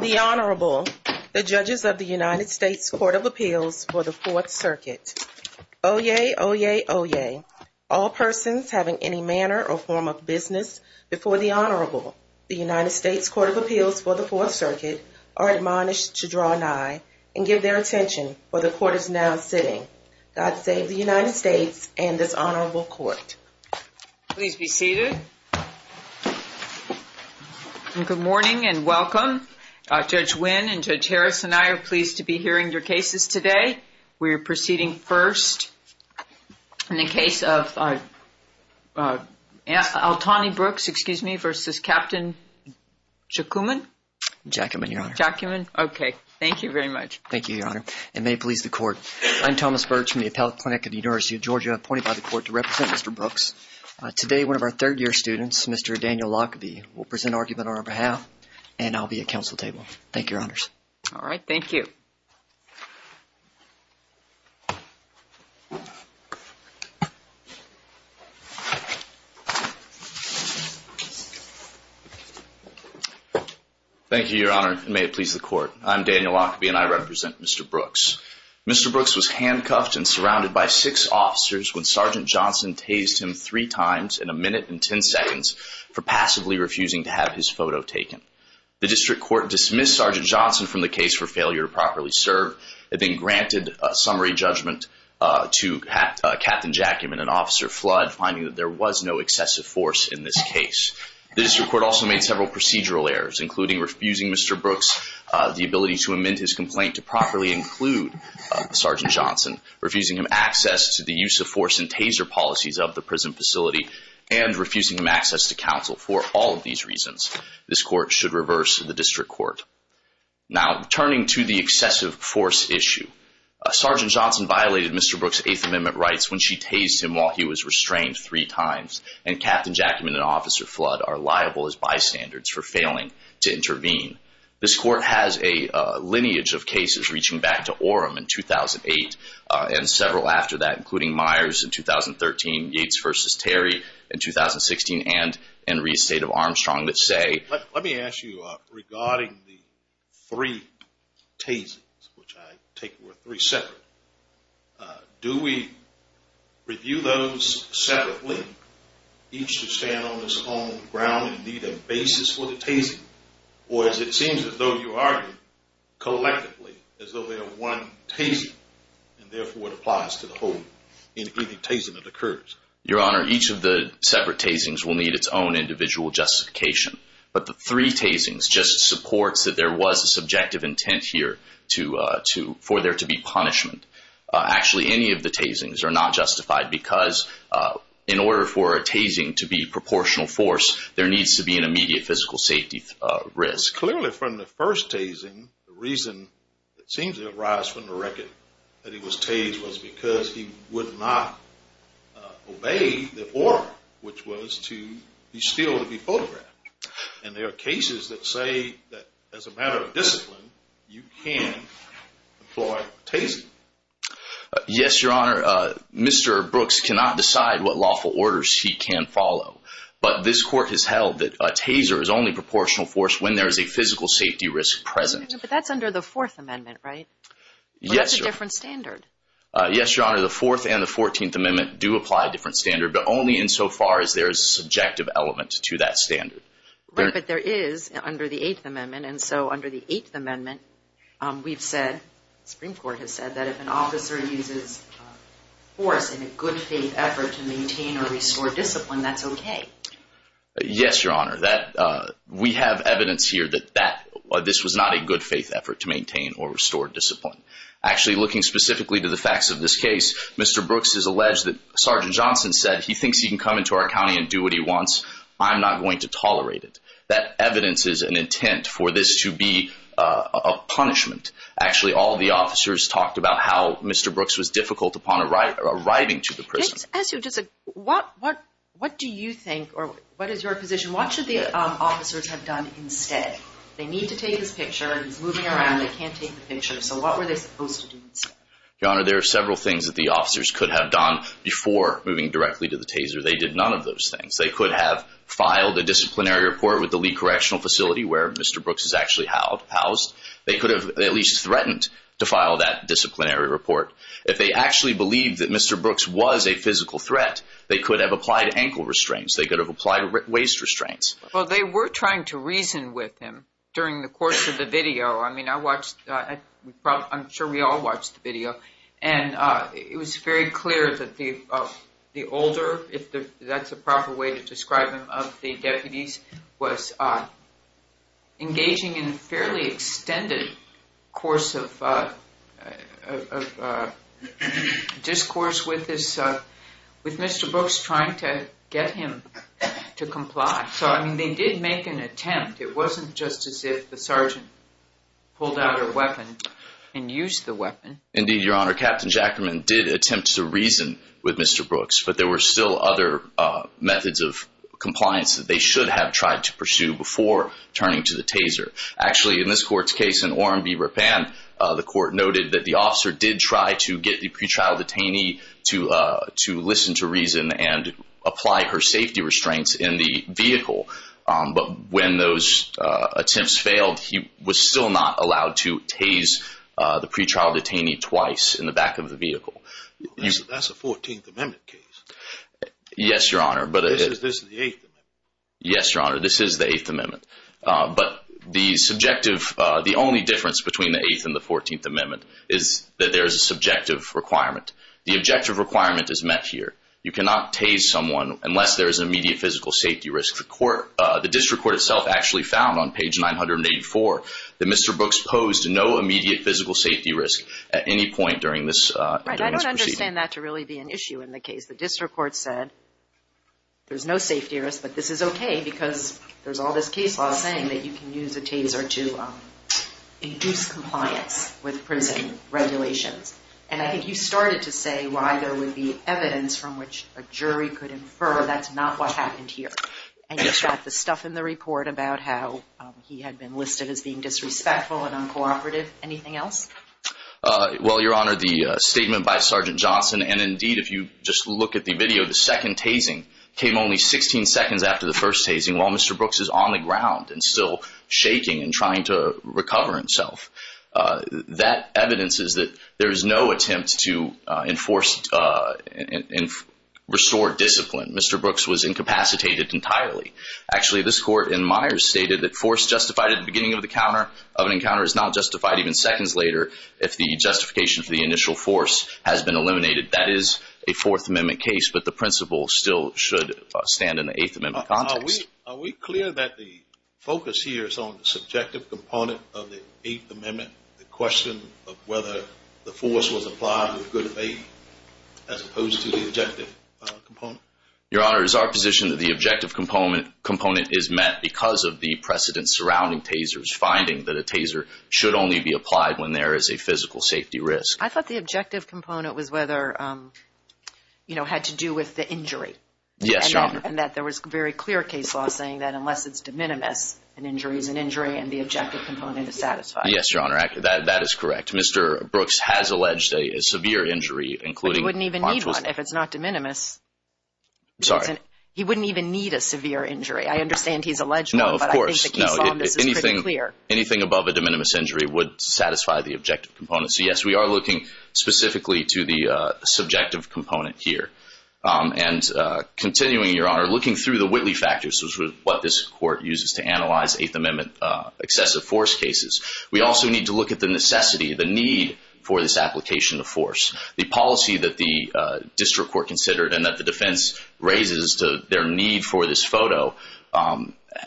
The Honorable The judges of the United States Court of Appeals for the Fourth Circuit. Oyez, oyez, oyez. All persons having any manner or form of business before the Honorable, the United States Court of Appeals for the Fourth Circuit, are admonished to draw an eye and give their attention where the court is now sitting. God save the United States and this Honorable Court. Please be seated. Good morning and welcome. Judge Wynn and Judge Harris and I are pleased to be hearing your cases today. We are proceeding first in the case of Altony Brooks v. Captain Jacumin. Jacumin, Your Honor. Jacumin. Okay. Thank you very much. Thank you, Your Honor, and may it please the court. I'm Thomas Birch from the Appellate Clinic of the University of Georgia appointed by the court to represent Mr. Brooks. Today, one of our third-year students, Mr. Daniel Lockaby, will present argument on our behalf and I'll be at council table. Thank you, Your Honors. All right. Thank you. Thank you, Your Honor, and may it please the court. I'm Daniel Lockaby and I represent Mr. Brooks. Mr. Brooks was handcuffed and surrounded by six officers when Sergeant Johnson tased him three times in a minute and 10 seconds for passively refusing to have his photo taken. The district court dismissed Sergeant Johnson from the case for failure to properly serve. Captain Jacumin and Officer Flood finding that there was no excessive force in this case. The district court also made several procedural errors including refusing Mr. Brooks the ability to amend his complaint to properly include Sergeant Johnson, refusing him access to the use of force and taser policies of the prison facility, and refusing him access to counsel for all of these reasons. This court should reverse the district court. Now, turning to the excessive force issue, Sergeant Johnson violated Mr. Brooks' Eighth Amendment rights when she tased him while he was restrained three times and Captain Jacumin and Officer Flood are liable as bystanders for failing to intervene. This court has a lineage of cases reaching back to Orem in 2008 and several after that, including Myers in 2013, Yates v. Terry in 2016, and Henry's State of Armstrong that say... Let me ask you regarding the three tasings, which I take were three separate, do we review those separately, each to stand on its own ground and need a basis for the tasing? Or as it seems as though you argue, collectively, as though they are one tasing and therefore it applies to the whole tasing that occurs? Your Honor, each of the separate tasings will need its own individual justification, but the three tasings just supports that there was a subjective intent here for there to be punishment. Actually, any of the tasings are not justified because in order for a tasing to be proportional force, there needs to be an immediate physical safety risk. Clearly from the first tasing, the reason that seems to arise from the record that he was obeying the order, which was to be still to be photographed. And there are cases that say that as a matter of discipline, you can employ tasing. Yes, Your Honor, Mr. Brooks cannot decide what lawful orders he can follow, but this court has held that a taser is only proportional force when there is a physical safety risk present. But that's under the Fourth Amendment, right? Yes, Your Honor. That's a different standard. Yes, Your Honor, the Fourth and the Fourteenth Amendment do apply a different standard, but only insofar as there is a subjective element to that standard. Right, but there is under the Eighth Amendment, and so under the Eighth Amendment, we've said, the Supreme Court has said, that if an officer uses force in a good faith effort to maintain or restore discipline, that's okay. Yes, Your Honor. We have evidence here that this was not a good faith effort to maintain or restore discipline. Actually, looking specifically to the facts of this case, Mr. Brooks has alleged that Sergeant Johnson said, he thinks he can come into our county and do what he wants. I'm not going to tolerate it. That evidence is an intent for this to be a punishment. Actually, all the officers talked about how Mr. Brooks was difficult upon arriving to the prison. What do you think, or what is your position? What should the officers have done instead? They need to take his picture, and he's moving around. They can't take the picture. So what were they supposed to do instead? Your Honor, there are several things that the officers could have done before moving directly to the taser. They did none of those things. They could have filed a disciplinary report with the Lee Correctional Facility, where Mr. Brooks is actually housed. They could have at least threatened to file that disciplinary report. If they actually believed that Mr. Brooks was a physical threat, they could have applied ankle restraints. Well, they were trying to reason with him during the course of the video. I mean, I'm sure we all watched the video, and it was very clear that the older, if that's a proper way to describe him, of the deputies was engaging in a fairly extended course of So, I mean, they did make an attempt. It wasn't just as if the sergeant pulled out a weapon and used the weapon. Indeed, Your Honor, Captain Jackerman did attempt to reason with Mr. Brooks, but there were still other methods of compliance that they should have tried to pursue before turning to the taser. Actually, in this court's case in Orem v. Ripan, the court noted that the officer did try to get the pretrial detainee to listen to reason and apply her safety restraints in the vehicle, but when those attempts failed, he was still not allowed to tase the pretrial detainee twice in the back of the vehicle. That's a 14th Amendment case. Yes, Your Honor. This is the 8th Amendment. Yes, Your Honor, this is the 8th Amendment, but the subjective, the only difference between the 8th and the 14th Amendment is that there is a subjective requirement. The objective requirement is met here. You cannot tase someone unless there is an immediate physical safety risk. The District Court itself actually found on page 984 that Mr. Brooks posed no immediate physical safety risk at any point during this proceeding. Right, I don't understand that to really be an issue in the case. The District Court said there's no safety risk, but this is okay because there's all this case law saying that you can use a taser to induce compliance with prison regulations, and I think you started to say why there would be evidence from which a jury could infer that's not what happened here, and you got the stuff in the report about how he had been listed as being disrespectful and uncooperative. Anything else? Well, Your Honor, the statement by Sergeant Johnson, and indeed if you just look at the video, the second tasing came only 16 seconds after the first tasing while Mr. Brooks is on the ground and still shaking and trying to recover himself. That evidence is that there is no attempt to restore discipline. Mr. Brooks was incapacitated entirely. Actually, this Court in Myers stated that force justified at the beginning of an encounter is not justified even seconds later if the justification for the initial force has been eliminated. That is a Fourth Amendment case, but the principle still should stand in the Eighth Amendment context. Are we clear that the focus here is on the subjective component of the Eighth Amendment, the question of whether the force was applied with good faith as opposed to the objective component? Your Honor, is our position that the objective component is met because of the precedence surrounding tasers, finding that a taser should only be applied when there is a physical safety risk? I thought the objective component was whether, you know, had to do with the injury. Yes, Your Honor. And that was a very clear case law saying that unless it's de minimis, an injury is an injury and the objective component is satisfied. Yes, Your Honor. That is correct. Mr. Brooks has alleged a severe injury, including... He wouldn't even need one if it's not de minimis. Sorry. He wouldn't even need a severe injury. I understand he's alleged one, but I think the case law on this is pretty clear. Anything above a de minimis injury would satisfy the objective component. So, yes, we are looking specifically to the subjective component here. And continuing, Your Honor, looking through the Whitley factors, which is what this Court uses to analyze Eighth Amendment excessive force cases, we also need to look at the necessity, the need for this application of force. The policy that the district court considered and that the defense raises to their need for this photo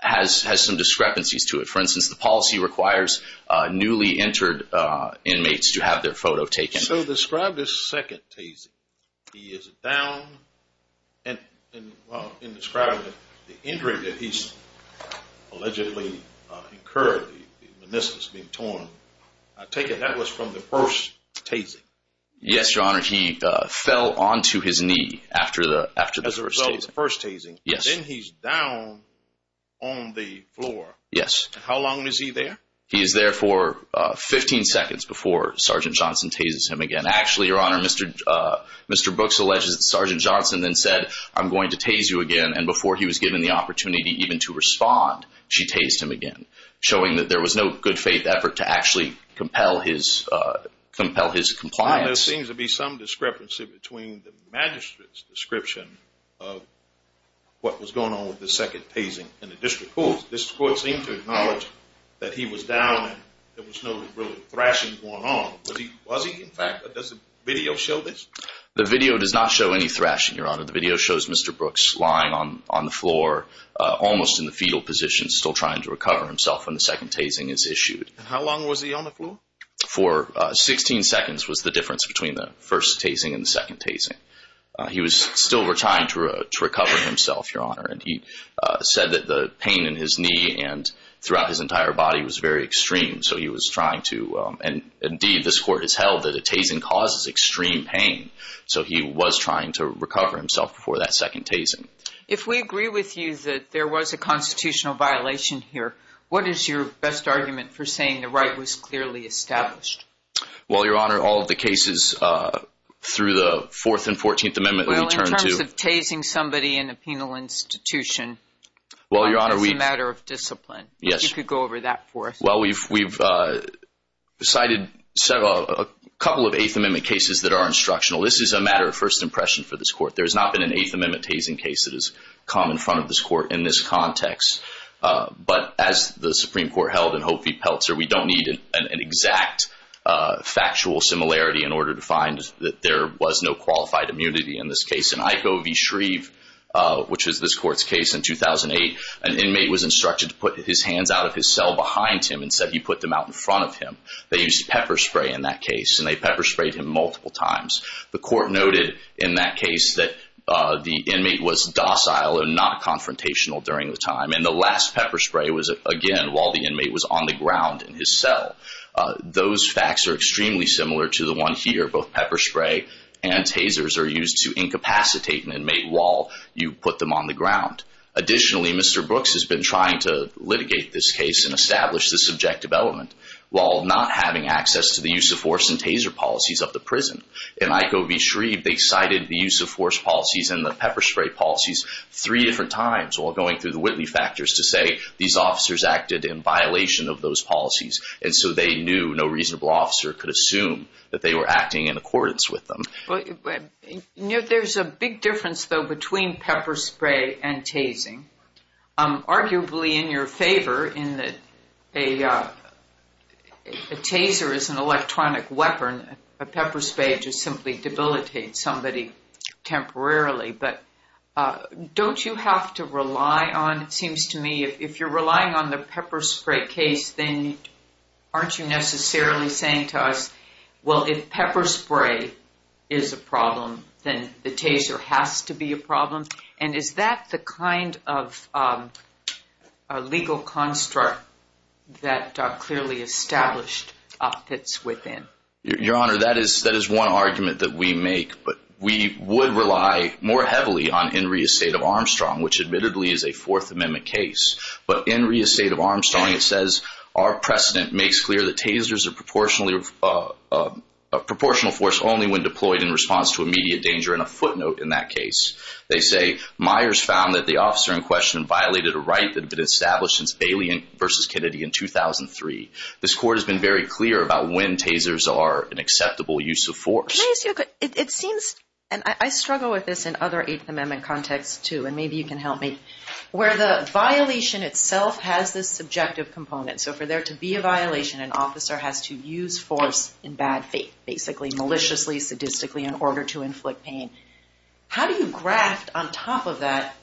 has some discrepancies to it. For instance, the policy requires newly entered inmates to have their photo taken. So describe this second tasing. He is down and describing the injury that he's allegedly incurred, the meniscus being torn. I take it that was from the first tasing. Yes, Your Honor. He fell onto his knee after the first tasing. As a result of the first tasing, then he's down on the floor. Yes. How long is he there? He is there for 15 seconds before Sergeant Johnson tases him again. Actually, Your Honor, Mr. Brooks alleges that Sergeant Johnson then said, I'm going to tase you again. And before he was given the opportunity even to respond, she tased him again, showing that there was no good faith effort to actually compel his compliance. There seems to be some discrepancy between the magistrate's description of what was in the district court. This court seemed to acknowledge that he was down and there was no real thrashing going on. Was he? In fact, does the video show this? The video does not show any thrashing, Your Honor. The video shows Mr. Brooks lying on the floor, almost in the fetal position, still trying to recover himself when the second tasing is issued. How long was he on the floor? For 16 seconds was the difference between the first tasing and the second tasing. He was said that the pain in his knee and throughout his entire body was very extreme. So he was trying to, and indeed, this court has held that a tasing causes extreme pain. So he was trying to recover himself before that second tasing. If we agree with you that there was a constitutional violation here, what is your best argument for saying the right was clearly established? Well, Your Honor, all of the cases through the 4th and 14th Amendment... Well, in terms of tasing somebody in a penal institution, it's a matter of discipline. Yes. You could go over that for us. Well, we've cited several, a couple of 8th Amendment cases that are instructional. This is a matter of first impression for this court. There has not been an 8th Amendment tasing case that has come in front of this court in this context. But as the Supreme Court held in Hophy Peltzer, we don't need an exact factual similarity in order to find that there was no qualified immunity in this case. In Iko v. Shreve, which was this court's case in 2008, an inmate was instructed to put his hands out of his cell behind him and said he put them out in front of him. They used pepper spray in that case, and they pepper sprayed him multiple times. The court noted in that case that the inmate was docile and not confrontational during the time. And the last pepper spray was, again, while the inmate was on the ground in his cell. Those facts are extremely similar to the one here. Both pepper spray and tasers are used to incapacitate an inmate while you put them on the ground. Additionally, Mr. Brooks has been trying to litigate this case and establish the subjective element while not having access to the use of force and taser policies of the prison. In Iko v. Shreve, they cited the use of force policies and the pepper spray policies three different times while going through the Whitley factors to say these officers acted in violation of those policies. And so they knew no reasonable officer could assume that they were acting in accordance with them. There's a big difference, though, between pepper spray and tasing. Arguably in your favor, a taser is an electronic weapon. A pepper spray just simply debilitates somebody temporarily. But don't you have to rely on, it seems to me, if you're a pepper spray case, then aren't you necessarily saying to us, well, if pepper spray is a problem, then the taser has to be a problem? And is that the kind of legal construct that clearly established fits within? Your Honor, that is one argument that we make. But we would rely more heavily on Henry v. Armstrong, which admittedly is a Fourth Amendment case. But in Henry v. Armstrong, it says, our precedent makes clear that tasers are a proportional force only when deployed in response to immediate danger. And a footnote in that case, they say, Myers found that the officer in question violated a right that had been established since Bailey v. Kennedy in 2003. This Court has been very clear about when tasers are an acceptable use of force. It seems, and I struggle with this in other Eighth Amendment contexts too, and maybe you can help me, where the violation itself has this subjective component. So for there to be a violation, an officer has to use force in bad faith, basically maliciously, sadistically in order to inflict pain. How do you graft on top of that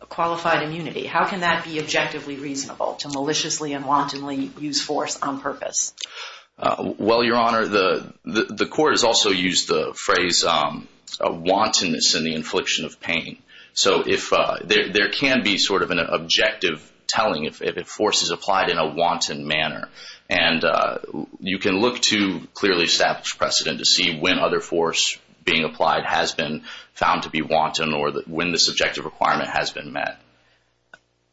a qualified immunity? How can that be objectively reasonable to maliciously and wantonly use force on purpose? Well, Your Honor, the Court is also phrase wantonness in the infliction of pain. So there can be sort of an objective telling if force is applied in a wanton manner. And you can look to clearly established precedent to see when other force being applied has been found to be wanton or when the subjective requirement has been met.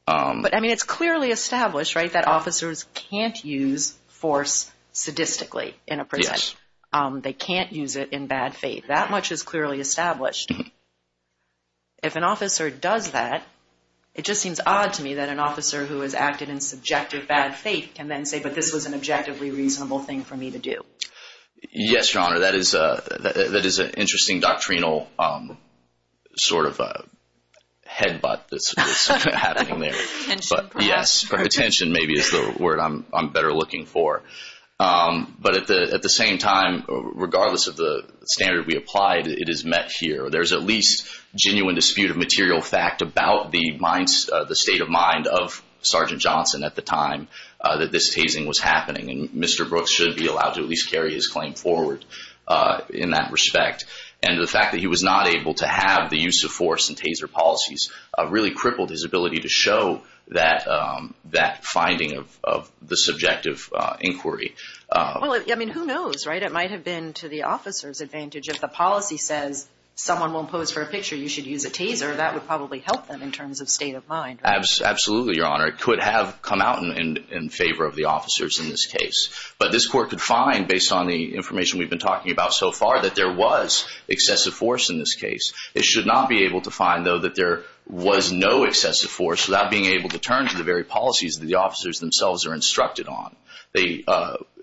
But I mean, it's clearly established, right, that officers can't use force sadistically in a prison. They can't use it in bad faith. That much is clearly established. If an officer does that, it just seems odd to me that an officer who has acted in subjective bad faith can then say, but this was an objectively reasonable thing for me to do. Yes, Your Honor, that is an interesting doctrinal sort of headbutt that's happening there. Yes, attention maybe is the word I'm better looking for. But at the same time, regardless of the standard we applied, it is met here. There's at least genuine dispute of material fact about the state of mind of Sergeant Johnson at the time that this tasing was happening. And Mr. Brooks should be allowed to at least carry his claim forward in that respect. And the fact that he was not able to have the use of force and taser policies really crippled his ability to show that finding of the subjective inquiry. Well, I mean, who knows, right? It might have been to the officer's advantage. If the policy says someone won't pose for a picture, you should use a taser. That would probably help them in terms of state of mind. Absolutely, Your Honor. It could have come out in favor of the officers in this case. But this court could find, based on the information we've been talking about so far, that there was excessive force in this case. It should not be able to find, though, that there was no excessive force without being able to turn to the very policies that the officers themselves are instructed on.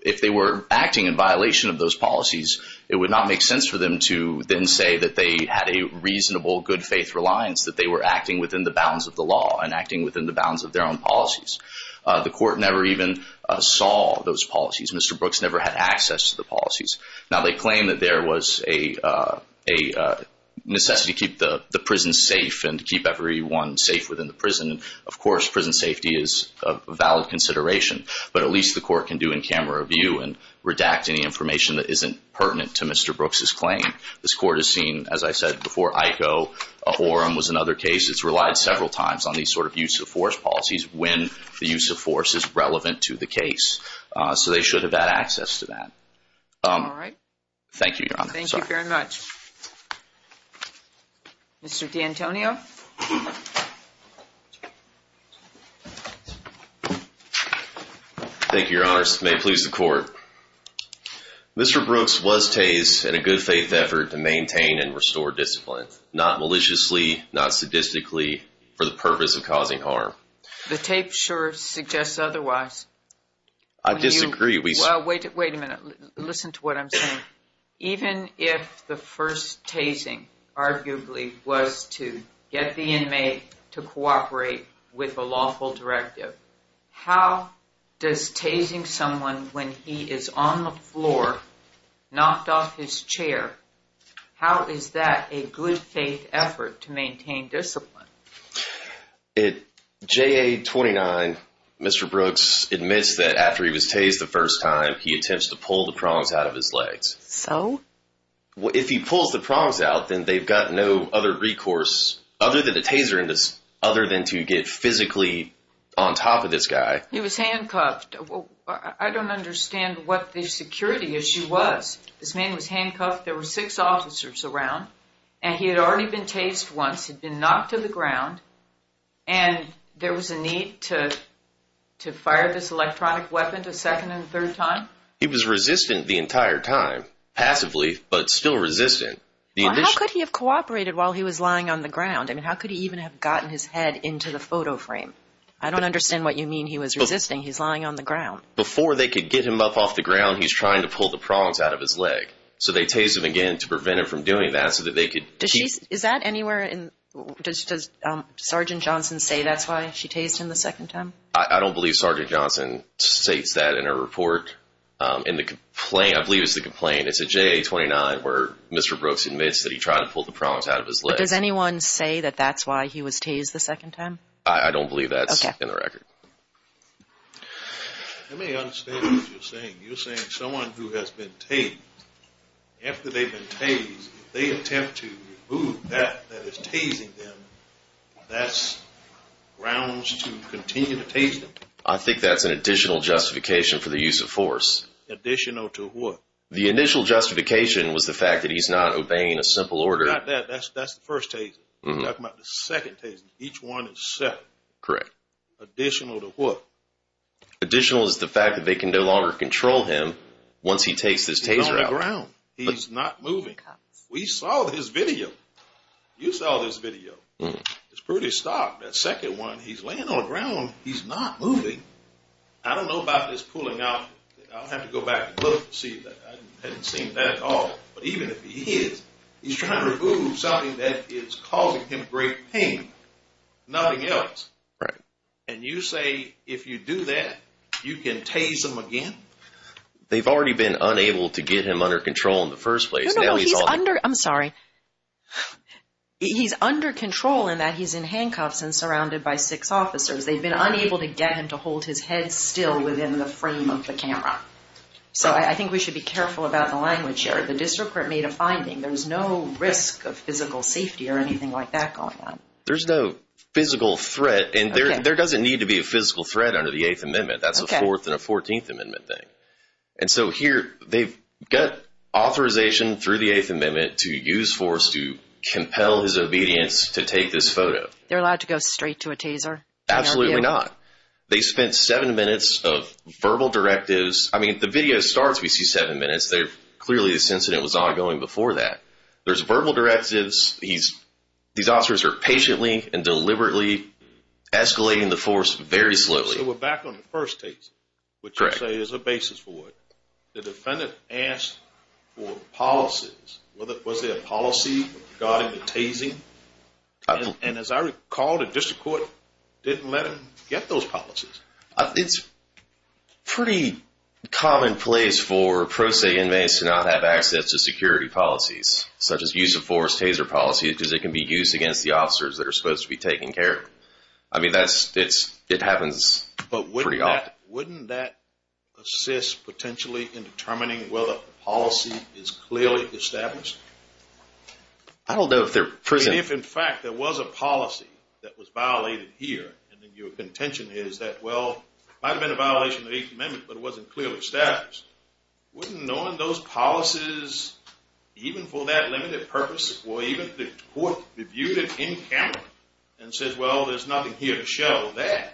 If they were acting in violation of those policies, it would not make sense for them to then say that they had a reasonable good faith reliance, that they were acting within the bounds of the law and acting within the bounds of their own policies. The court never even saw those policies. Mr. Brooks never had access to the policies. Now, they claim that there was a necessity to keep the prison safe and to keep everyone safe within the prison. Of course, prison safety is a valid consideration. But at least the court can do in-camera review and redact any information that isn't pertinent to Mr. Brooks's claim. This court has seen, as I said before, IKO. Ahorum was another case. It's relied several times on these sort of use of force policies when the use of force is relevant to the case. So they should have had access to that. Thank you, Your Honor. Thank you very much. Mr. D'Antonio. Thank you, Your Honor. May it please the court. Mr. Brooks was tased in a good faith effort to maintain and restore discipline, not maliciously, not sadistically, for the purpose of causing harm. The tape sure suggests otherwise. I disagree. Well, wait a minute. Listen to what I'm saying. Even if the first tasing arguably was to get the inmate to cooperate with a lawful directive, how does tasing someone when he is on the floor, knocked off his chair, how is that a good faith effort to maintain discipline? J.A. 29, Mr. Brooks admits that after he was tased the first time, he attempts to pull the prongs out of his legs. So? If he pulls the prongs out, then they've got no other recourse other than a taser, other than to get physically on top of this guy. He was handcuffed. I don't understand what the security issue was. This man was handcuffed. There were six officers around, and he had already been tased once. He'd been knocked to the ground, and there was a need to fire this electronic weapon a second and third time. He was resistant the entire time, passively, but still resistant. How could he have cooperated while he was lying on the ground? I mean, how could he even have gotten his head into the photo frame? I don't understand what you mean he was resisting. He's lying on the ground. Before they could get him up off the ground, he's trying to pull the prongs out of his leg. So they tased him again to prevent him from doing that so that they could... Is that anywhere in... Does Sergeant Johnson say that's why she tased him the second time? I don't believe Sergeant Johnson states that in her report. I believe it's the complaint. It's a JA-29 where Mr. Brooks admits that he tried to pull the prongs out of his leg. But does anyone say that that's why he was tased the second time? I don't believe that's in the record. I may understand what you're saying. You're saying someone who has been tased, after they've been tased, if they attempt to remove that that is tasing them, that's grounds to continue to tase them. I think that's an additional justification for the use of force. Additional to what? The initial justification was the fact that he's not obeying a simple order. Not that. That's the first taser. You're talking about the second taser. Each one is separate. Correct. Additional to what? Additional is the fact that they can no longer control him once he takes this taser out. He's on the ground. He's not moving. We saw his video. You saw this video. It's pretty stark. That second one, he's laying on the ground. He's not moving. I don't know about this pulling out. I'll have to go back and look to see that. I haven't seen that at all. But even if he is, he's trying to remove something that is causing him great pain. Nothing else. And you say if you do that, you can tase him again? They've already been unable to get him under control in the first place. I'm sorry. He's under control in that he's in handcuffs and surrounded by six officers. They've been unable to get him to hold his head still within the frame of the camera. So I think we should be careful about the language here. The district court made a finding. There's no risk of physical safety or anything like that going on. There's no physical threat. And there doesn't need to be a physical threat under the 8th Amendment. That's a 4th and a 14th Amendment thing. And so here, they've got authorization through the 8th Amendment to use force to compel his obedience to take this photo. They're allowed to go straight to a taser? Absolutely not. They spent seven minutes of verbal directives. I mean, the video starts, we see seven minutes. Clearly, this incident was ongoing before that. There's verbal directives. These officers are patiently and deliberately escalating the force very slowly. So we're back on the first taser, which you say is a basis for it. The defendant asked for policies. Was there a policy regarding the tasing? And as I recall, the district court didn't let him get those policies. It's pretty commonplace for pro se inmates to not have access to security policies, such as use of force taser policies, because it can be used against the officers that are supposed to be taken care of. I mean, it happens pretty often. Wouldn't that assist potentially in determining whether a policy is clearly established? I don't know if they're prison... If, in fact, there was a policy that was violated here, and then your contention is that, well, it might have been a violation of the 8th Amendment, but it wasn't clearly established, wouldn't knowing those policies, even for that limited purpose, or even the court reviewed it in camera and says, well, there's nothing here to show that.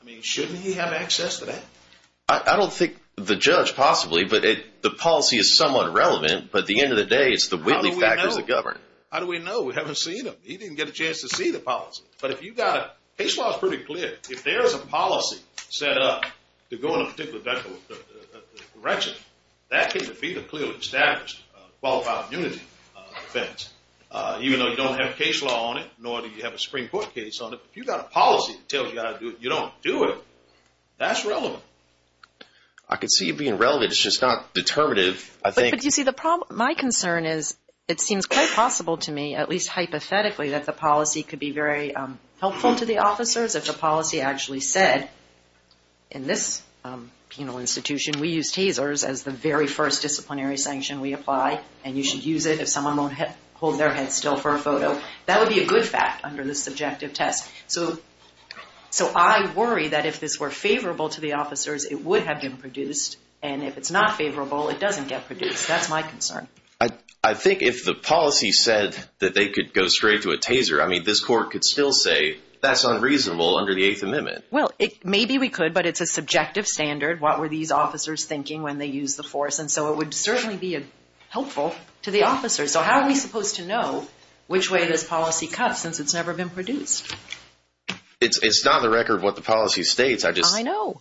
I mean, shouldn't he have access to that? I don't think the judge possibly, but the policy is somewhat relevant. But at the end of the day, it's the Whitley factors that govern. How do we know? We haven't seen him. He didn't get a chance to see the policy. But if you've got case laws pretty clear, if there's a policy set up to go in a particular direction, that can be the clearly established qualified immunity defense. Even though you don't have a case law on it, nor do you have a Supreme Court case on it, if you've got a policy to tell you how to do it, you don't do it. That's relevant. I can see it being relevant. It's just not determinative. But you see, my concern is it seems quite possible to me, at least hypothetically, that the policy could be very helpful to the officers if the policy actually said, in this penal institution, we use tasers as the very first disciplinary sanction we apply. And you should use it if someone won't hold their head still for a photo. That would be a good fact under the subjective test. So I worry that if this were favorable to the officers, it would have been produced. And if it's not favorable, it doesn't get produced. That's my concern. I think if the policy said that they could go straight to a taser, I mean, this court could still say that's unreasonable under the Eighth Amendment. Well, maybe we could, but it's a subjective standard. What were these officers thinking when they used the force? And so it would certainly be helpful to the officers. So how are we supposed to know which way this policy cuts since it's never been produced? It's not on the record what the policy states. I know.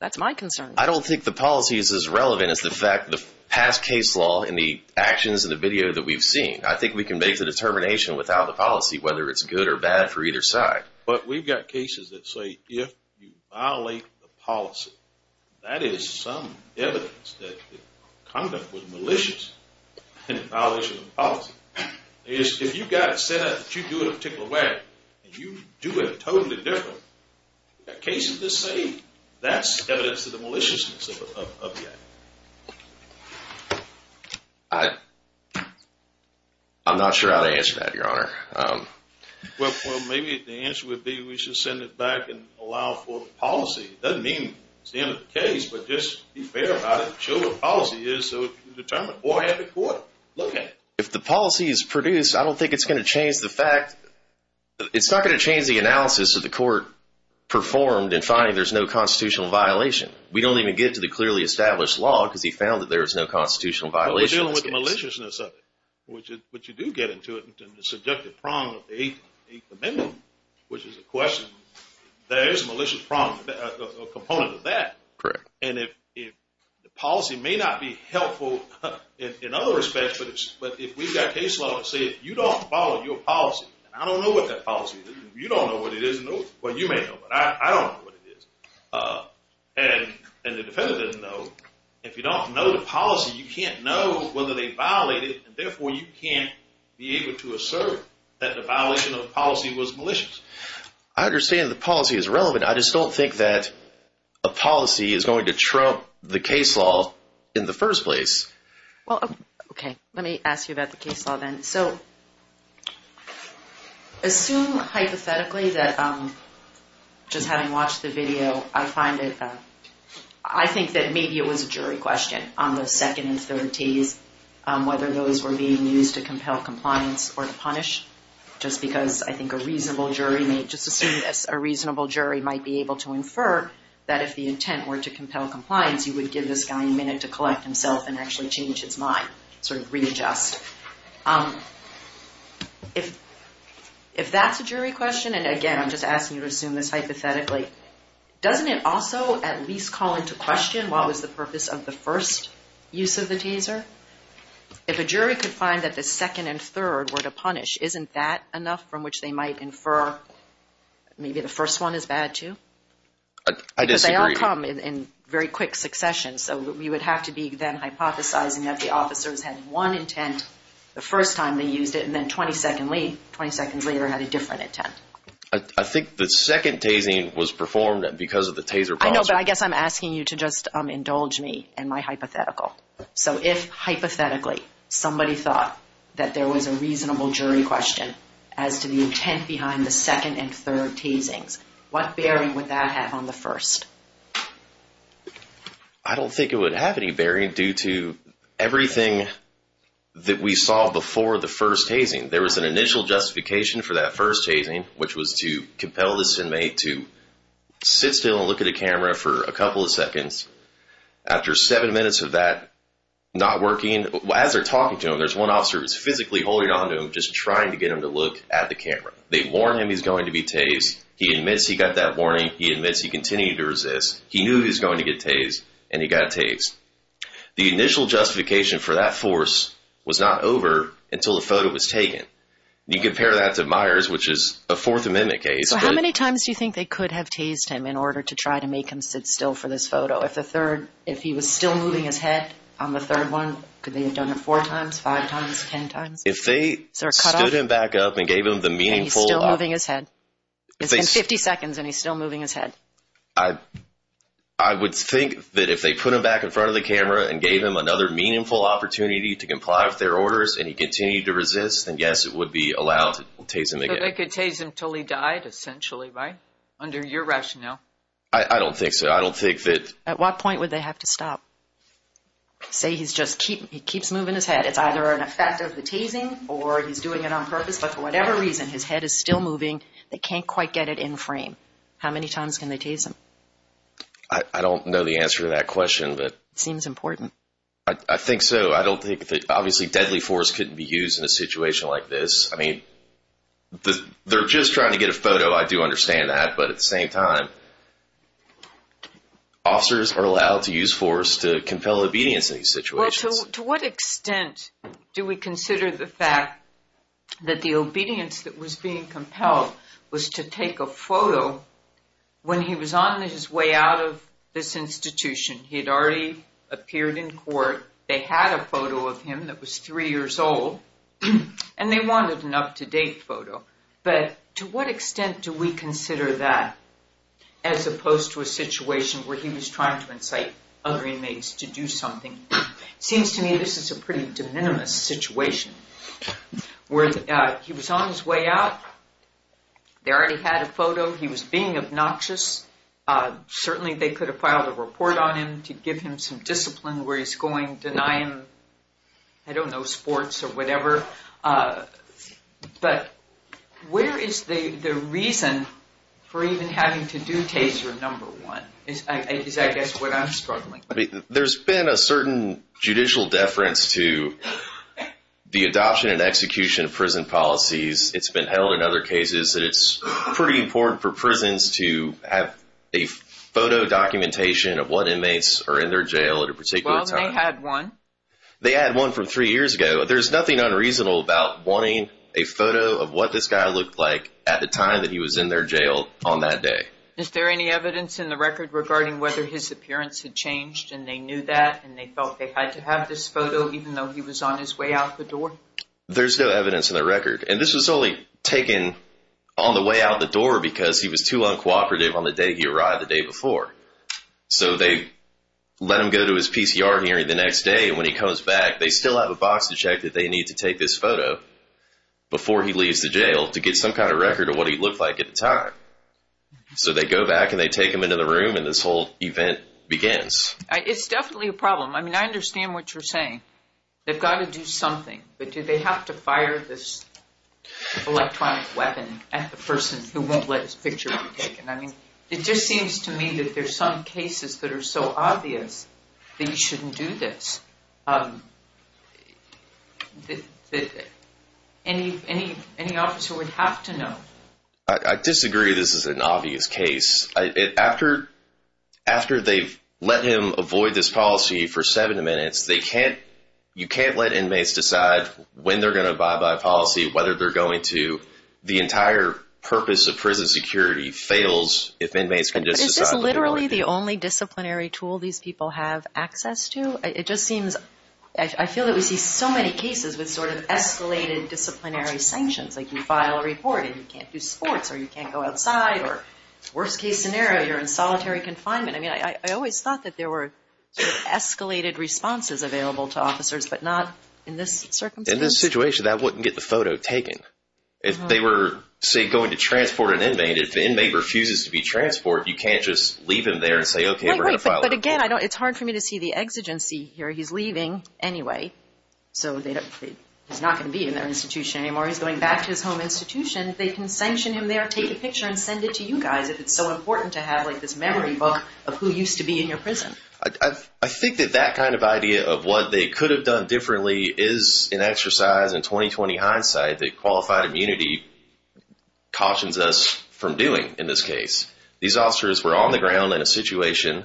That's my concern. I don't think the policy is as relevant as the fact the past case law and the actions in the video that we've seen. I think we can make the determination without the policy, whether it's good or bad for either side. But we've got cases that say if you violate the policy, that is some evidence that the conduct was malicious in violation of the policy. If you've got it set up that you do it a particular way and you do it totally different, you've got cases that say that's evidence of the maliciousness of the act. I'm not sure how to answer that, Your Honor. Well, maybe the answer would be we should send it back and allow for the policy. It doesn't mean it's the end of the case, but just be fair about it. Show what the policy is so it can be determined. Or have the court look at it. If the policy is produced, I don't think it's going to change the fact, performed and finding there's no constitutional violation. We don't even get to the clearly established law, because he found that there is no constitutional violation. We're dealing with maliciousness of it, which you do get into it in the subjective prong of the Eighth Amendment, which is a question. There is a malicious prong, a component of that. Correct. And if the policy may not be helpful in other respects, but if we've got case law that say if you don't follow your policy, I don't know what that policy is. You don't know what it is. Well, you may know, but I don't know what it is. And the defendant doesn't know. If you don't know the policy, you can't know whether they violate it. And therefore, you can't be able to assert that the violation of policy was malicious. I understand the policy is relevant. I just don't think that a policy is going to trump the case law in the first place. Well, OK. Let me ask you about the case law then. So assume hypothetically that just having watched the video, I find it, I think that maybe it was a jury question on the second and third tees, whether those were being used to compel compliance or to punish, just because I think a reasonable jury may just assume this. A reasonable jury might be able to infer that if the intent were to compel compliance, you would give this guy a minute to collect himself and actually change his mind, sort of readjust. But if that's a jury question, and again, I'm just asking you to assume this hypothetically, doesn't it also at least call into question what was the purpose of the first use of the taser? If a jury could find that the second and third were to punish, isn't that enough from which they might infer maybe the first one is bad too? I disagree. Because they all come in very quick succession. So you would have to be then hypothesizing that the officers had one intent the first time they used it, and then 20 seconds later had a different intent. I think the second tasing was performed because of the taser. I know, but I guess I'm asking you to just indulge me in my hypothetical. So if hypothetically somebody thought that there was a reasonable jury question as to the intent behind the second and third tasings, what bearing would that have on the first? I don't think it would have any bearing due to everything that we saw before the first tasing. There was an initial justification for that first tasing, which was to compel this inmate to sit still and look at a camera for a couple of seconds. After seven minutes of that not working, as they're talking to him, there's one officer who's physically holding on to him, just trying to get him to look at the camera. They warn him he's going to be tased. He admits he got that warning. He admits he continued to resist. He knew he was going to get tased, and he got tased. The initial justification for that force was not over until the photo was taken. You compare that to Myers, which is a Fourth Amendment case. So how many times do you think they could have tased him in order to try to make him sit still for this photo? If the third, if he was still moving his head on the third one, could they have done it four times, five times, ten times? If they stood him back up and gave him the meaningful- He's still moving his head. It's been 50 seconds and he's still moving his head. I, I would think that if they put him back in front of the camera and gave him another meaningful opportunity to comply with their orders, and he continued to resist, then yes, it would be allowed to tase him again. So they could tase him until he died, essentially, right? Under your rationale. I don't think so. I don't think that- At what point would they have to stop? Say he's just keep, he keeps moving his head. It's either an effect of the tasing, or he's doing it on purpose. But for whatever reason, his head is still moving. They can't quite get it in frame. How many times can they tase him? I don't know the answer to that question, but- Seems important. I think so. I don't think that, obviously, deadly force couldn't be used in a situation like this. I mean, they're just trying to get a photo, I do understand that. But at the same time, officers are allowed to use force to compel obedience in these situations. To what extent do we consider the fact that the obedience that was being compelled was to take a photo when he was on his way out of this institution? He had already appeared in court. They had a photo of him that was three years old, and they wanted an up-to-date photo. But to what extent do we consider that, as opposed to a situation where he was trying to incite other inmates to do something? Seems to me this is a pretty de minimis situation, where he was on his way out. They already had a photo. He was being obnoxious. Certainly, they could have filed a report on him to give him some discipline where he's going, deny him, I don't know, sports or whatever. But where is the reason for even having to do tase your number one? Is, I guess, what I'm struggling with. There's been a certain judicial deference to the adoption and execution of prison policies. It's been held in other cases that it's pretty important for prisons to have a photo documentation of what inmates are in their jail at a particular time. Well, they had one. They had one from three years ago. There's nothing unreasonable about wanting a photo of what this guy looked like at the time that he was in their jail on that day. Is there any evidence in the record regarding whether his appearance had changed, and they knew that, and they felt they had to have this photo, even though he was on his way out the door? There's no evidence in the record. And this was solely taken on the way out the door because he was too uncooperative on the day he arrived the day before. So they let him go to his PCR hearing the next day. And when he comes back, they still have a box to check that they need to take this photo before he leaves the jail to get some kind of record of what he looked like at the time. So they go back, and they take him into the room, and this whole event begins. It's definitely a problem. I mean, I understand what you're saying. They've got to do something. But do they have to fire this electronic weapon at the person who won't let his picture be taken? I mean, it just seems to me that there's some cases that are so obvious that you shouldn't do this. Any officer would have to know. I disagree. This is an obvious case. After they've let him avoid this policy for seven minutes, you can't let inmates decide when they're going to abide by a policy, whether they're going to. The entire purpose of prison security fails if inmates can just decide. But is this literally the only disciplinary tool these people have access to? I feel that we see so many cases with sort of escalated disciplinary sanctions. Like you file a report, and you can't do sports, or you can't go outside, or worst case scenario, you're in solitary confinement. I mean, I always thought that there were escalated responses available to officers, but not in this circumstance. In this situation, that wouldn't get the photo taken. If they were, say, going to transport an inmate, if the inmate refuses to be transported, you can't just leave him there and say, OK, we're going to file a report. But again, it's hard for me to see the exigency here. He's leaving anyway. So he's not going to be in their institution anymore. He's going back to his home institution. They can sanction him there, take a picture, and send it to you guys if it's so important to have this memory book of who used to be in your prison. I think that that kind of idea of what they could have done differently is an exercise in 2020 hindsight that qualified immunity cautions us from doing in this case. These officers were on the ground in a situation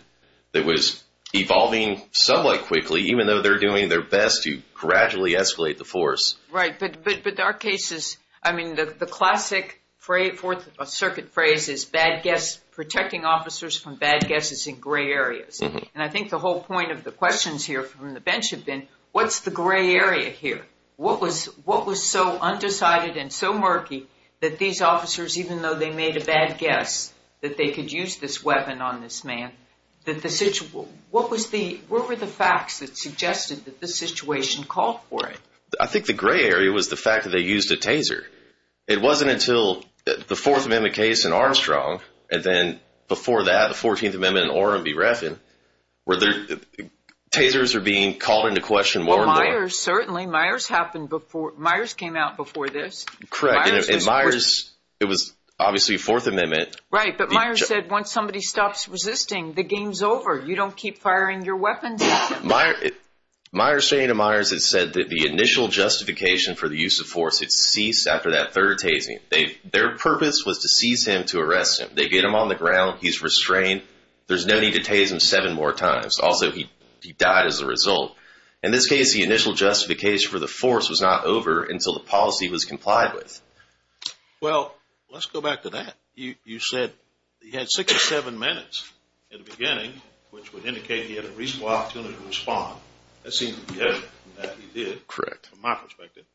that was evolving somewhat quickly, even though they're doing their best to gradually escalate the force. Right. But our cases, I mean, the classic fourth circuit phrase is protecting officers from bad guesses in gray areas. And I think the whole point of the questions here from the bench have been, what's the gray area here? What was so undecided and so murky that these officers, even though they made a bad guess that they could use this weapon on this man, what were the facts that suggested that this situation called for it? I think the gray area was the fact that they used a taser. It wasn't until the Fourth Amendment case in Armstrong, and then before that, the 14th Amendment in Orem v. Refn, where tasers are being called into question more and more. Certainly. Myers came out before this. Correct. It was obviously Fourth Amendment. Right. But Myers said once somebody stops resisting, the game's over. You don't keep firing your weapons. Myers, my restraining admires, it said that the initial justification for the use of force, it ceased after that third tasing. Their purpose was to seize him to arrest him. They get him on the ground. He's restrained. There's no need to tase him seven more times. Also, he died as a result. In this case, the initial justification for the force was not over until the policy was complied with. Well, let's go back to that. You said he had 67 minutes in the beginning, which would indicate he had a reasonable opportunity to respond. That seemed to be it, and that he did. Correct. From my perspective.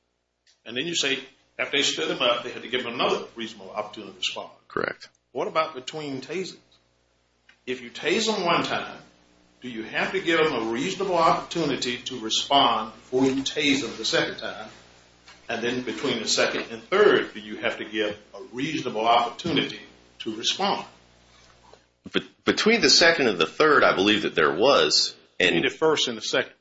And then you say after they stood him up, they had to give him another reasonable opportunity to respond. Correct. What about between tasers? If you tase him one time, do you have to give him a reasonable opportunity to respond before you tase him the second time? And then between the second and third, do you have to give a reasonable opportunity to respond? Between the second and the third, I believe that there was. And the first and the second?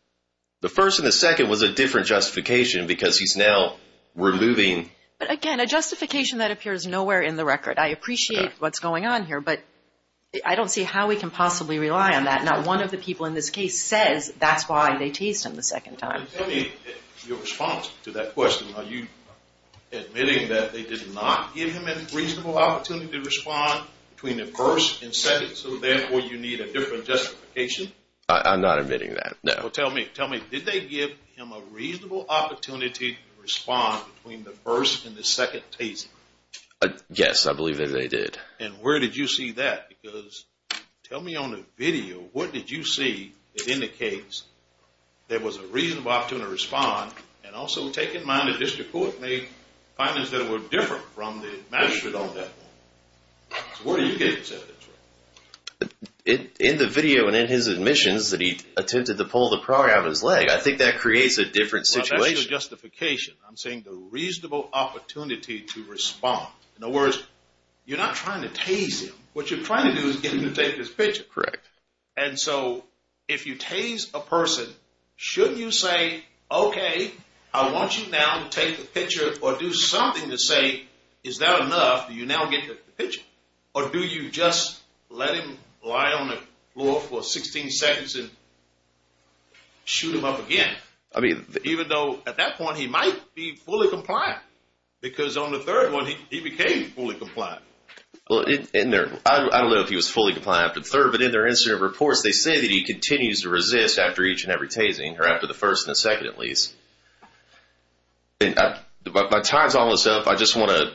The first and the second was a different justification because he's now removing... But again, a justification that appears nowhere in the record. I appreciate what's going on here, but I don't see how we can possibly rely on that. Not one of the people in this case says that's why they tased him the second time. Your response to that question, are you admitting that they did not give him a reasonable opportunity to respond between the first and second, so therefore you need a different justification? I'm not admitting that, no. Tell me, tell me, did they give him a reasonable opportunity to respond between the first and the second taser? Yes, I believe that they did. And where did you see that? Because tell me on the video, what did you see that indicates there was a reasonable opportunity to respond and also take in mind the district court made findings that were different from the magistrate on that one. Where do you get this evidence from? In the video and in his admissions that he attempted to pull the program out of his leg. I think that creates a different situation. Well, that's your justification. I'm saying the reasonable opportunity to respond. In other words, you're not trying to tase him. What you're trying to do is get him to take this picture. Correct. And so if you tase a person, shouldn't you say, okay, I want you now to take the picture or do something to say, is that enough? Do you now get the picture? Or do you just let him lie on the floor for 16 seconds and shoot him up again? I mean, even though at that point, he might be fully compliant because on the third one, he became fully compliant. Well, I don't know if he was fully compliant after the third, but in their incident reports, they say that he continues to resist after each and every tasing or after the first and the second at least. By tying all this up, I just want to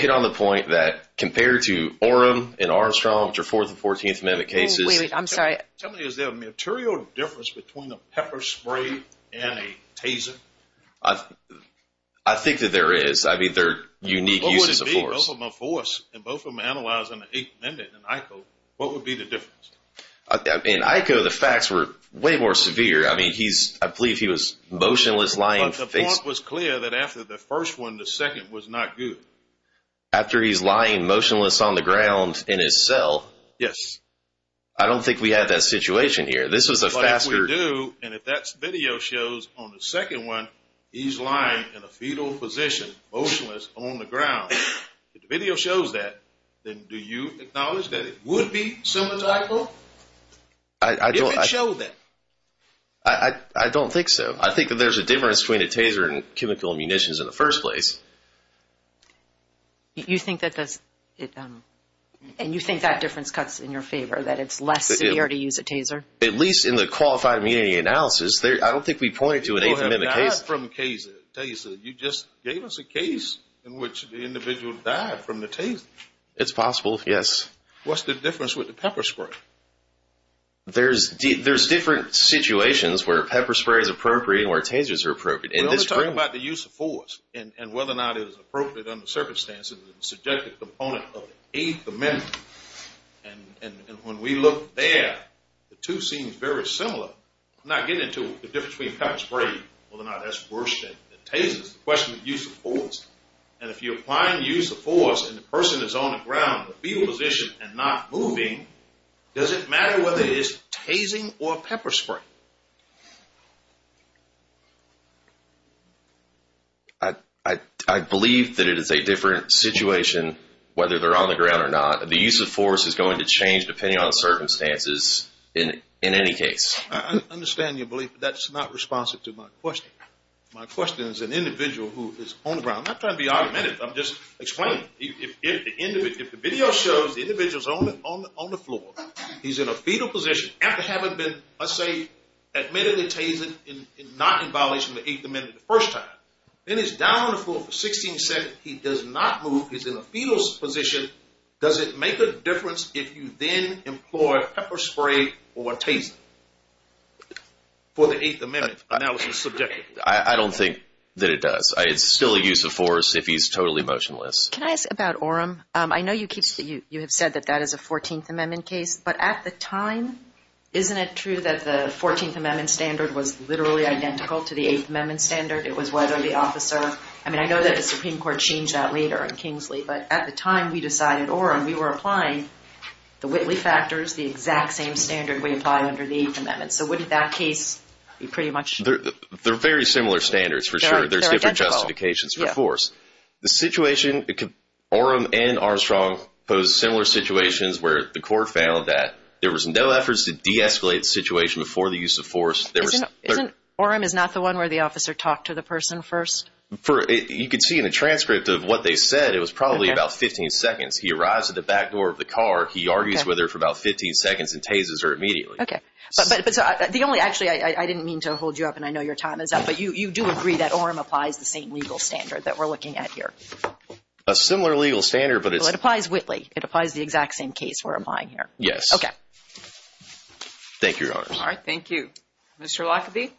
hit on the point compared to Orem and Armstrong, which are 4th and 14th Amendment cases. Wait, wait, I'm sorry. Tell me, is there a material difference between a pepper spray and a taser? I think that there is. I mean, they're unique uses of force. What would it be? Both of them are force and both of them are analyzing the 8th Amendment and ICO. What would be the difference? In ICO, the facts were way more severe. I mean, I believe he was motionless, lying face... But the point was clear that after the first one, the second was not good. After he's lying motionless on the ground in his cell. Yes. I don't think we had that situation here. This was a faster... But if we do, and if that video shows on the second one, he's lying in a fetal position, motionless on the ground. If the video shows that, then do you acknowledge that it would be similar to ICO? If it showed that. I don't think so. I think that there's a difference between a taser and chemical munitions in the first place. You think that does it... And you think that difference cuts in your favor, that it's less severe to use a taser? At least in the qualified immunity analysis, I don't think we pointed to an 8th Amendment case. People have died from tasers. You just gave us a case in which the individual died from the taser. It's possible, yes. What's the difference with the pepper spray? There's different situations where pepper spray is appropriate and where tasers are appropriate. We're only talking about the use of force and whether or not it is appropriate under circumstances is a subjective component of the 8th Amendment. And when we look there, the two seem very similar. I'm not getting into the difference between pepper spray, whether or not that's worse than the tasers. The question is the use of force. And if you're applying the use of force and the person is on the ground in a fetal position and not moving, does it matter whether it is tasing or pepper spray? I believe that it is a different situation whether they're on the ground or not. The use of force is going to change depending on circumstances in any case. I understand your belief, but that's not responsive to my question. My question is an individual who is on the ground. I'm not trying to be argumentative. I'm just explaining. If the video shows the individual's on the floor, he's in a fetal position, after having been, let's say, admittedly tased and not in violation of the Eighth Amendment the first time, then he's down on the floor for 16 seconds, he does not move, he's in a fetal position, does it make a difference if you then employ pepper spray or a taser for the Eighth Amendment analysis subjectively? I don't think that it does. It's still a use of force if he's totally motionless. Can I ask about Orem? I know you have said that that is a 14th Amendment case, but at the time, isn't it true that the 14th Amendment standard was literally identical to the Eighth Amendment standard? It was whether the officer... I mean, I know that the Supreme Court changed that later in Kingsley, but at the time we decided Orem, we were applying the Whitley factors, the exact same standard we apply under the Eighth Amendment. So wouldn't that case be pretty much... They're very similar standards, for sure. There's different justifications for force. The situation, Orem and Armstrong posed similar situations where the court found that there was no efforts to de-escalate the situation before the use of force. Orem is not the one where the officer talked to the person first? You can see in the transcript of what they said, it was probably about 15 seconds. He arrives at the back door of the car, he argues with her for about 15 seconds and tasers her immediately. Okay, but the only... Actually, I didn't mean to hold you up and I know your time is up, but you do agree that Orem applies the same legal standard that we're looking at here? A similar legal standard, but it's... It applies Whitley. It applies the exact same case we're applying here. Yes. Okay. Thank you, Your Honors. All right, thank you. Mr. Lockerbie?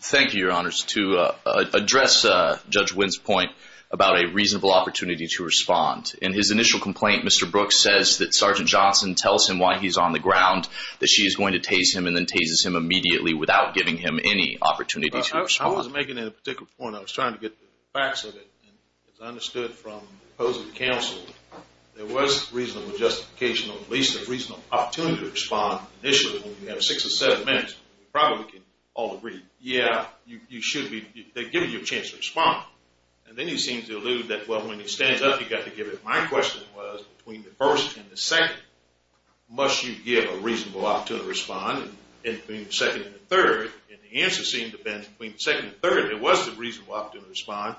Thank you, Your Honors. To address Judge Winn's point about a reasonable opportunity to respond, in his initial complaint, Mr. Brooks says that Sergeant Johnson tells him why he's on the ground, that she is going to tase him and then tases him immediately without giving him any opportunity to respond. At a particular point, I was trying to get the facts of it. And as I understood from opposing counsel, there was reasonable justification or at least a reasonable opportunity to respond. Initially, when you have six or seven minutes, you probably can all agree, yeah, you should be... They give you a chance to respond. And then he seems to allude that, well, when he stands up, you've got to give it. My question was between the first and the second, must you give a reasonable opportunity to respond in between the second and the third? And the answer seemed to have been between the second and third, there was a reasonable opportunity to respond,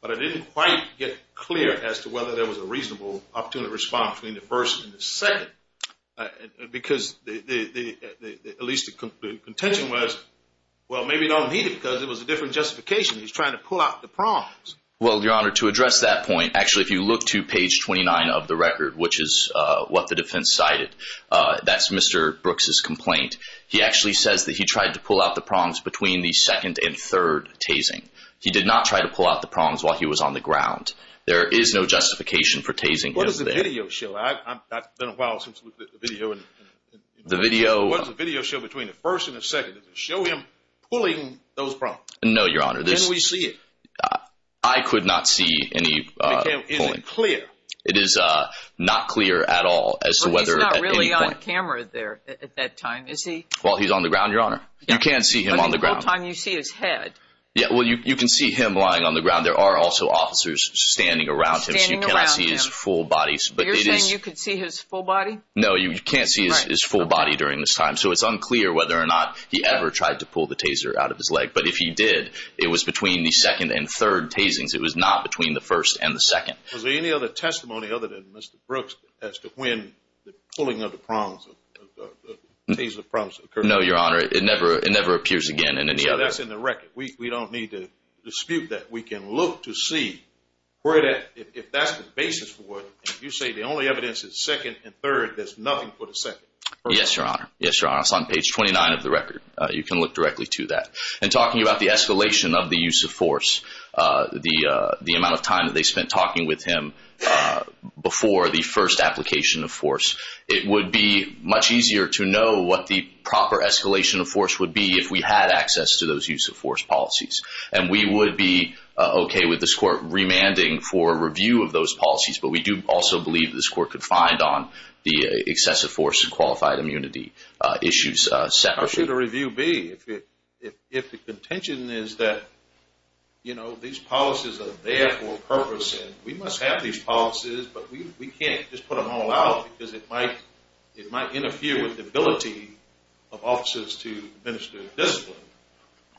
but I didn't quite get clear as to whether there was a reasonable opportunity to respond between the first and the second. Because at least the contention was, well, maybe you don't need it because it was a different justification. He's trying to pull out the prongs. Well, Your Honor, to address that point, actually, if you look to page 29 of the record, which is what the defense cited, that's Mr. Brooks's complaint. He actually says that he tried to pull out the prongs between the second and third tasing. He did not try to pull out the prongs while he was on the ground. There is no justification for tasing him there. What does the video show? I've not done a while since the video. The video. What does the video show between the first and the second? Does it show him pulling those prongs? No, Your Honor. Then we see it. I could not see any pulling. Is it clear? It is not clear at all as to whether at any point. But he's not really on camera there at that time, is he? Well, he's on the ground, Your Honor. You can't see him on the ground. But the whole time you see his head. Yeah, well, you can see him lying on the ground. There are also officers standing around him. Standing around him. So you cannot see his full body. So you're saying you could see his full body? No, you can't see his full body during this time. So it's unclear whether or not he ever tried to pull the taser out of his leg. But if he did, it was between the second and third tasings. It was not between the first and the second. Was there any other testimony other than Mr. Brooks as to when the pulling of the prongs, of the taser prongs occurred? No, Your Honor. It never appears again in any other. So that's in the record. We don't need to dispute that. We can look to see where that, if that's the basis for what you say, the only evidence is second and third. There's nothing for the second. Yes, Your Honor. Yes, Your Honor. It's on page 29 of the record. You can look directly to that. And talking about the escalation of the use of force, the amount of time that they spent talking with him before the first application of force. It would be much easier to know what the proper escalation of force would be if we had access to those use of force policies. And we would be OK with this court remanding for review of those policies. But we do also believe this court could find on the excessive force and qualified immunity issues separately. How should a review be if the contention is that, you know, these policies are there for a purpose. And we must have these policies. But we can't just put them all out because it might interfere with the ability of officers to administer discipline.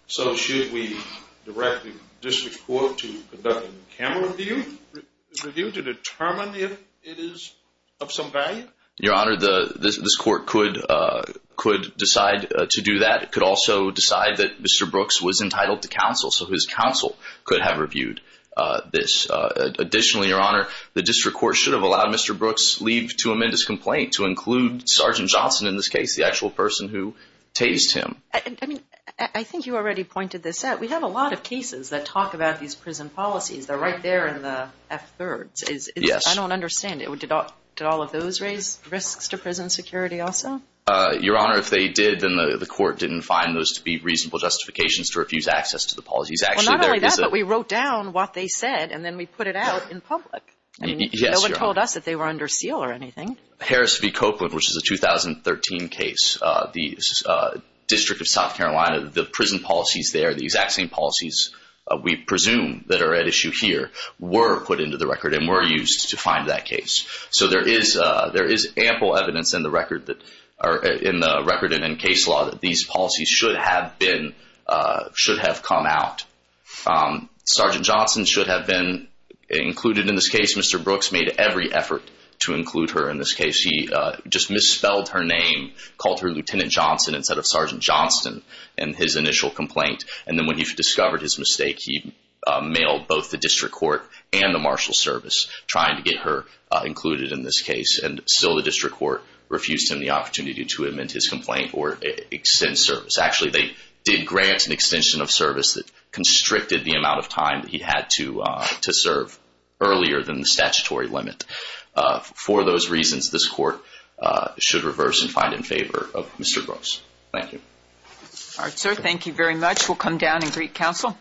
So should we direct the district court to conduct a camera review to determine if it is of some value? Your Honor, this court could decide to do that. It could also decide that Mr. Brooks was entitled to counsel. So his counsel could have reviewed this. Additionally, Your Honor, the district court should have allowed Mr. Brooks leave to amend his complaint to include Sergeant Johnson, in this case, the actual person who tased him. I mean, I think you already pointed this out. We have a lot of cases that talk about these prison policies. They're right there in the F-3rds. I don't understand. Did all of those raise risks to prison security also? Your Honor, if they did, then the court didn't find those to be reasonable justifications to refuse access to the policies. Well, not only that, but we wrote down what they said, and then we put it out in public. I mean, no one told us that they were under seal or anything. Harris v. Copeland, which is a 2013 case. The District of South Carolina, the prison policies there, the exact same policies we presume that are at issue here, were put into the record and were used to find that case. So there is ample evidence in the record and in case law that these policies should have come out. Sergeant Johnson should have been included in this case. Mr. Brooks made every effort to include her in this case. He just misspelled her name, called her Lieutenant Johnson instead of Sergeant Johnston in his initial complaint. And then when he discovered his mistake, he mailed both the district court and the marshal service trying to get her included in this case. And still the district court refused him the opportunity to amend his complaint or extend service. Actually, they did grant an extension of service that constricted the amount of time that he had to serve earlier than the statutory limit. For those reasons, this court should reverse and find in favor of Mr. Brooks. Thank you. All right, sir. Thank you very much. We'll come down and greet counsel.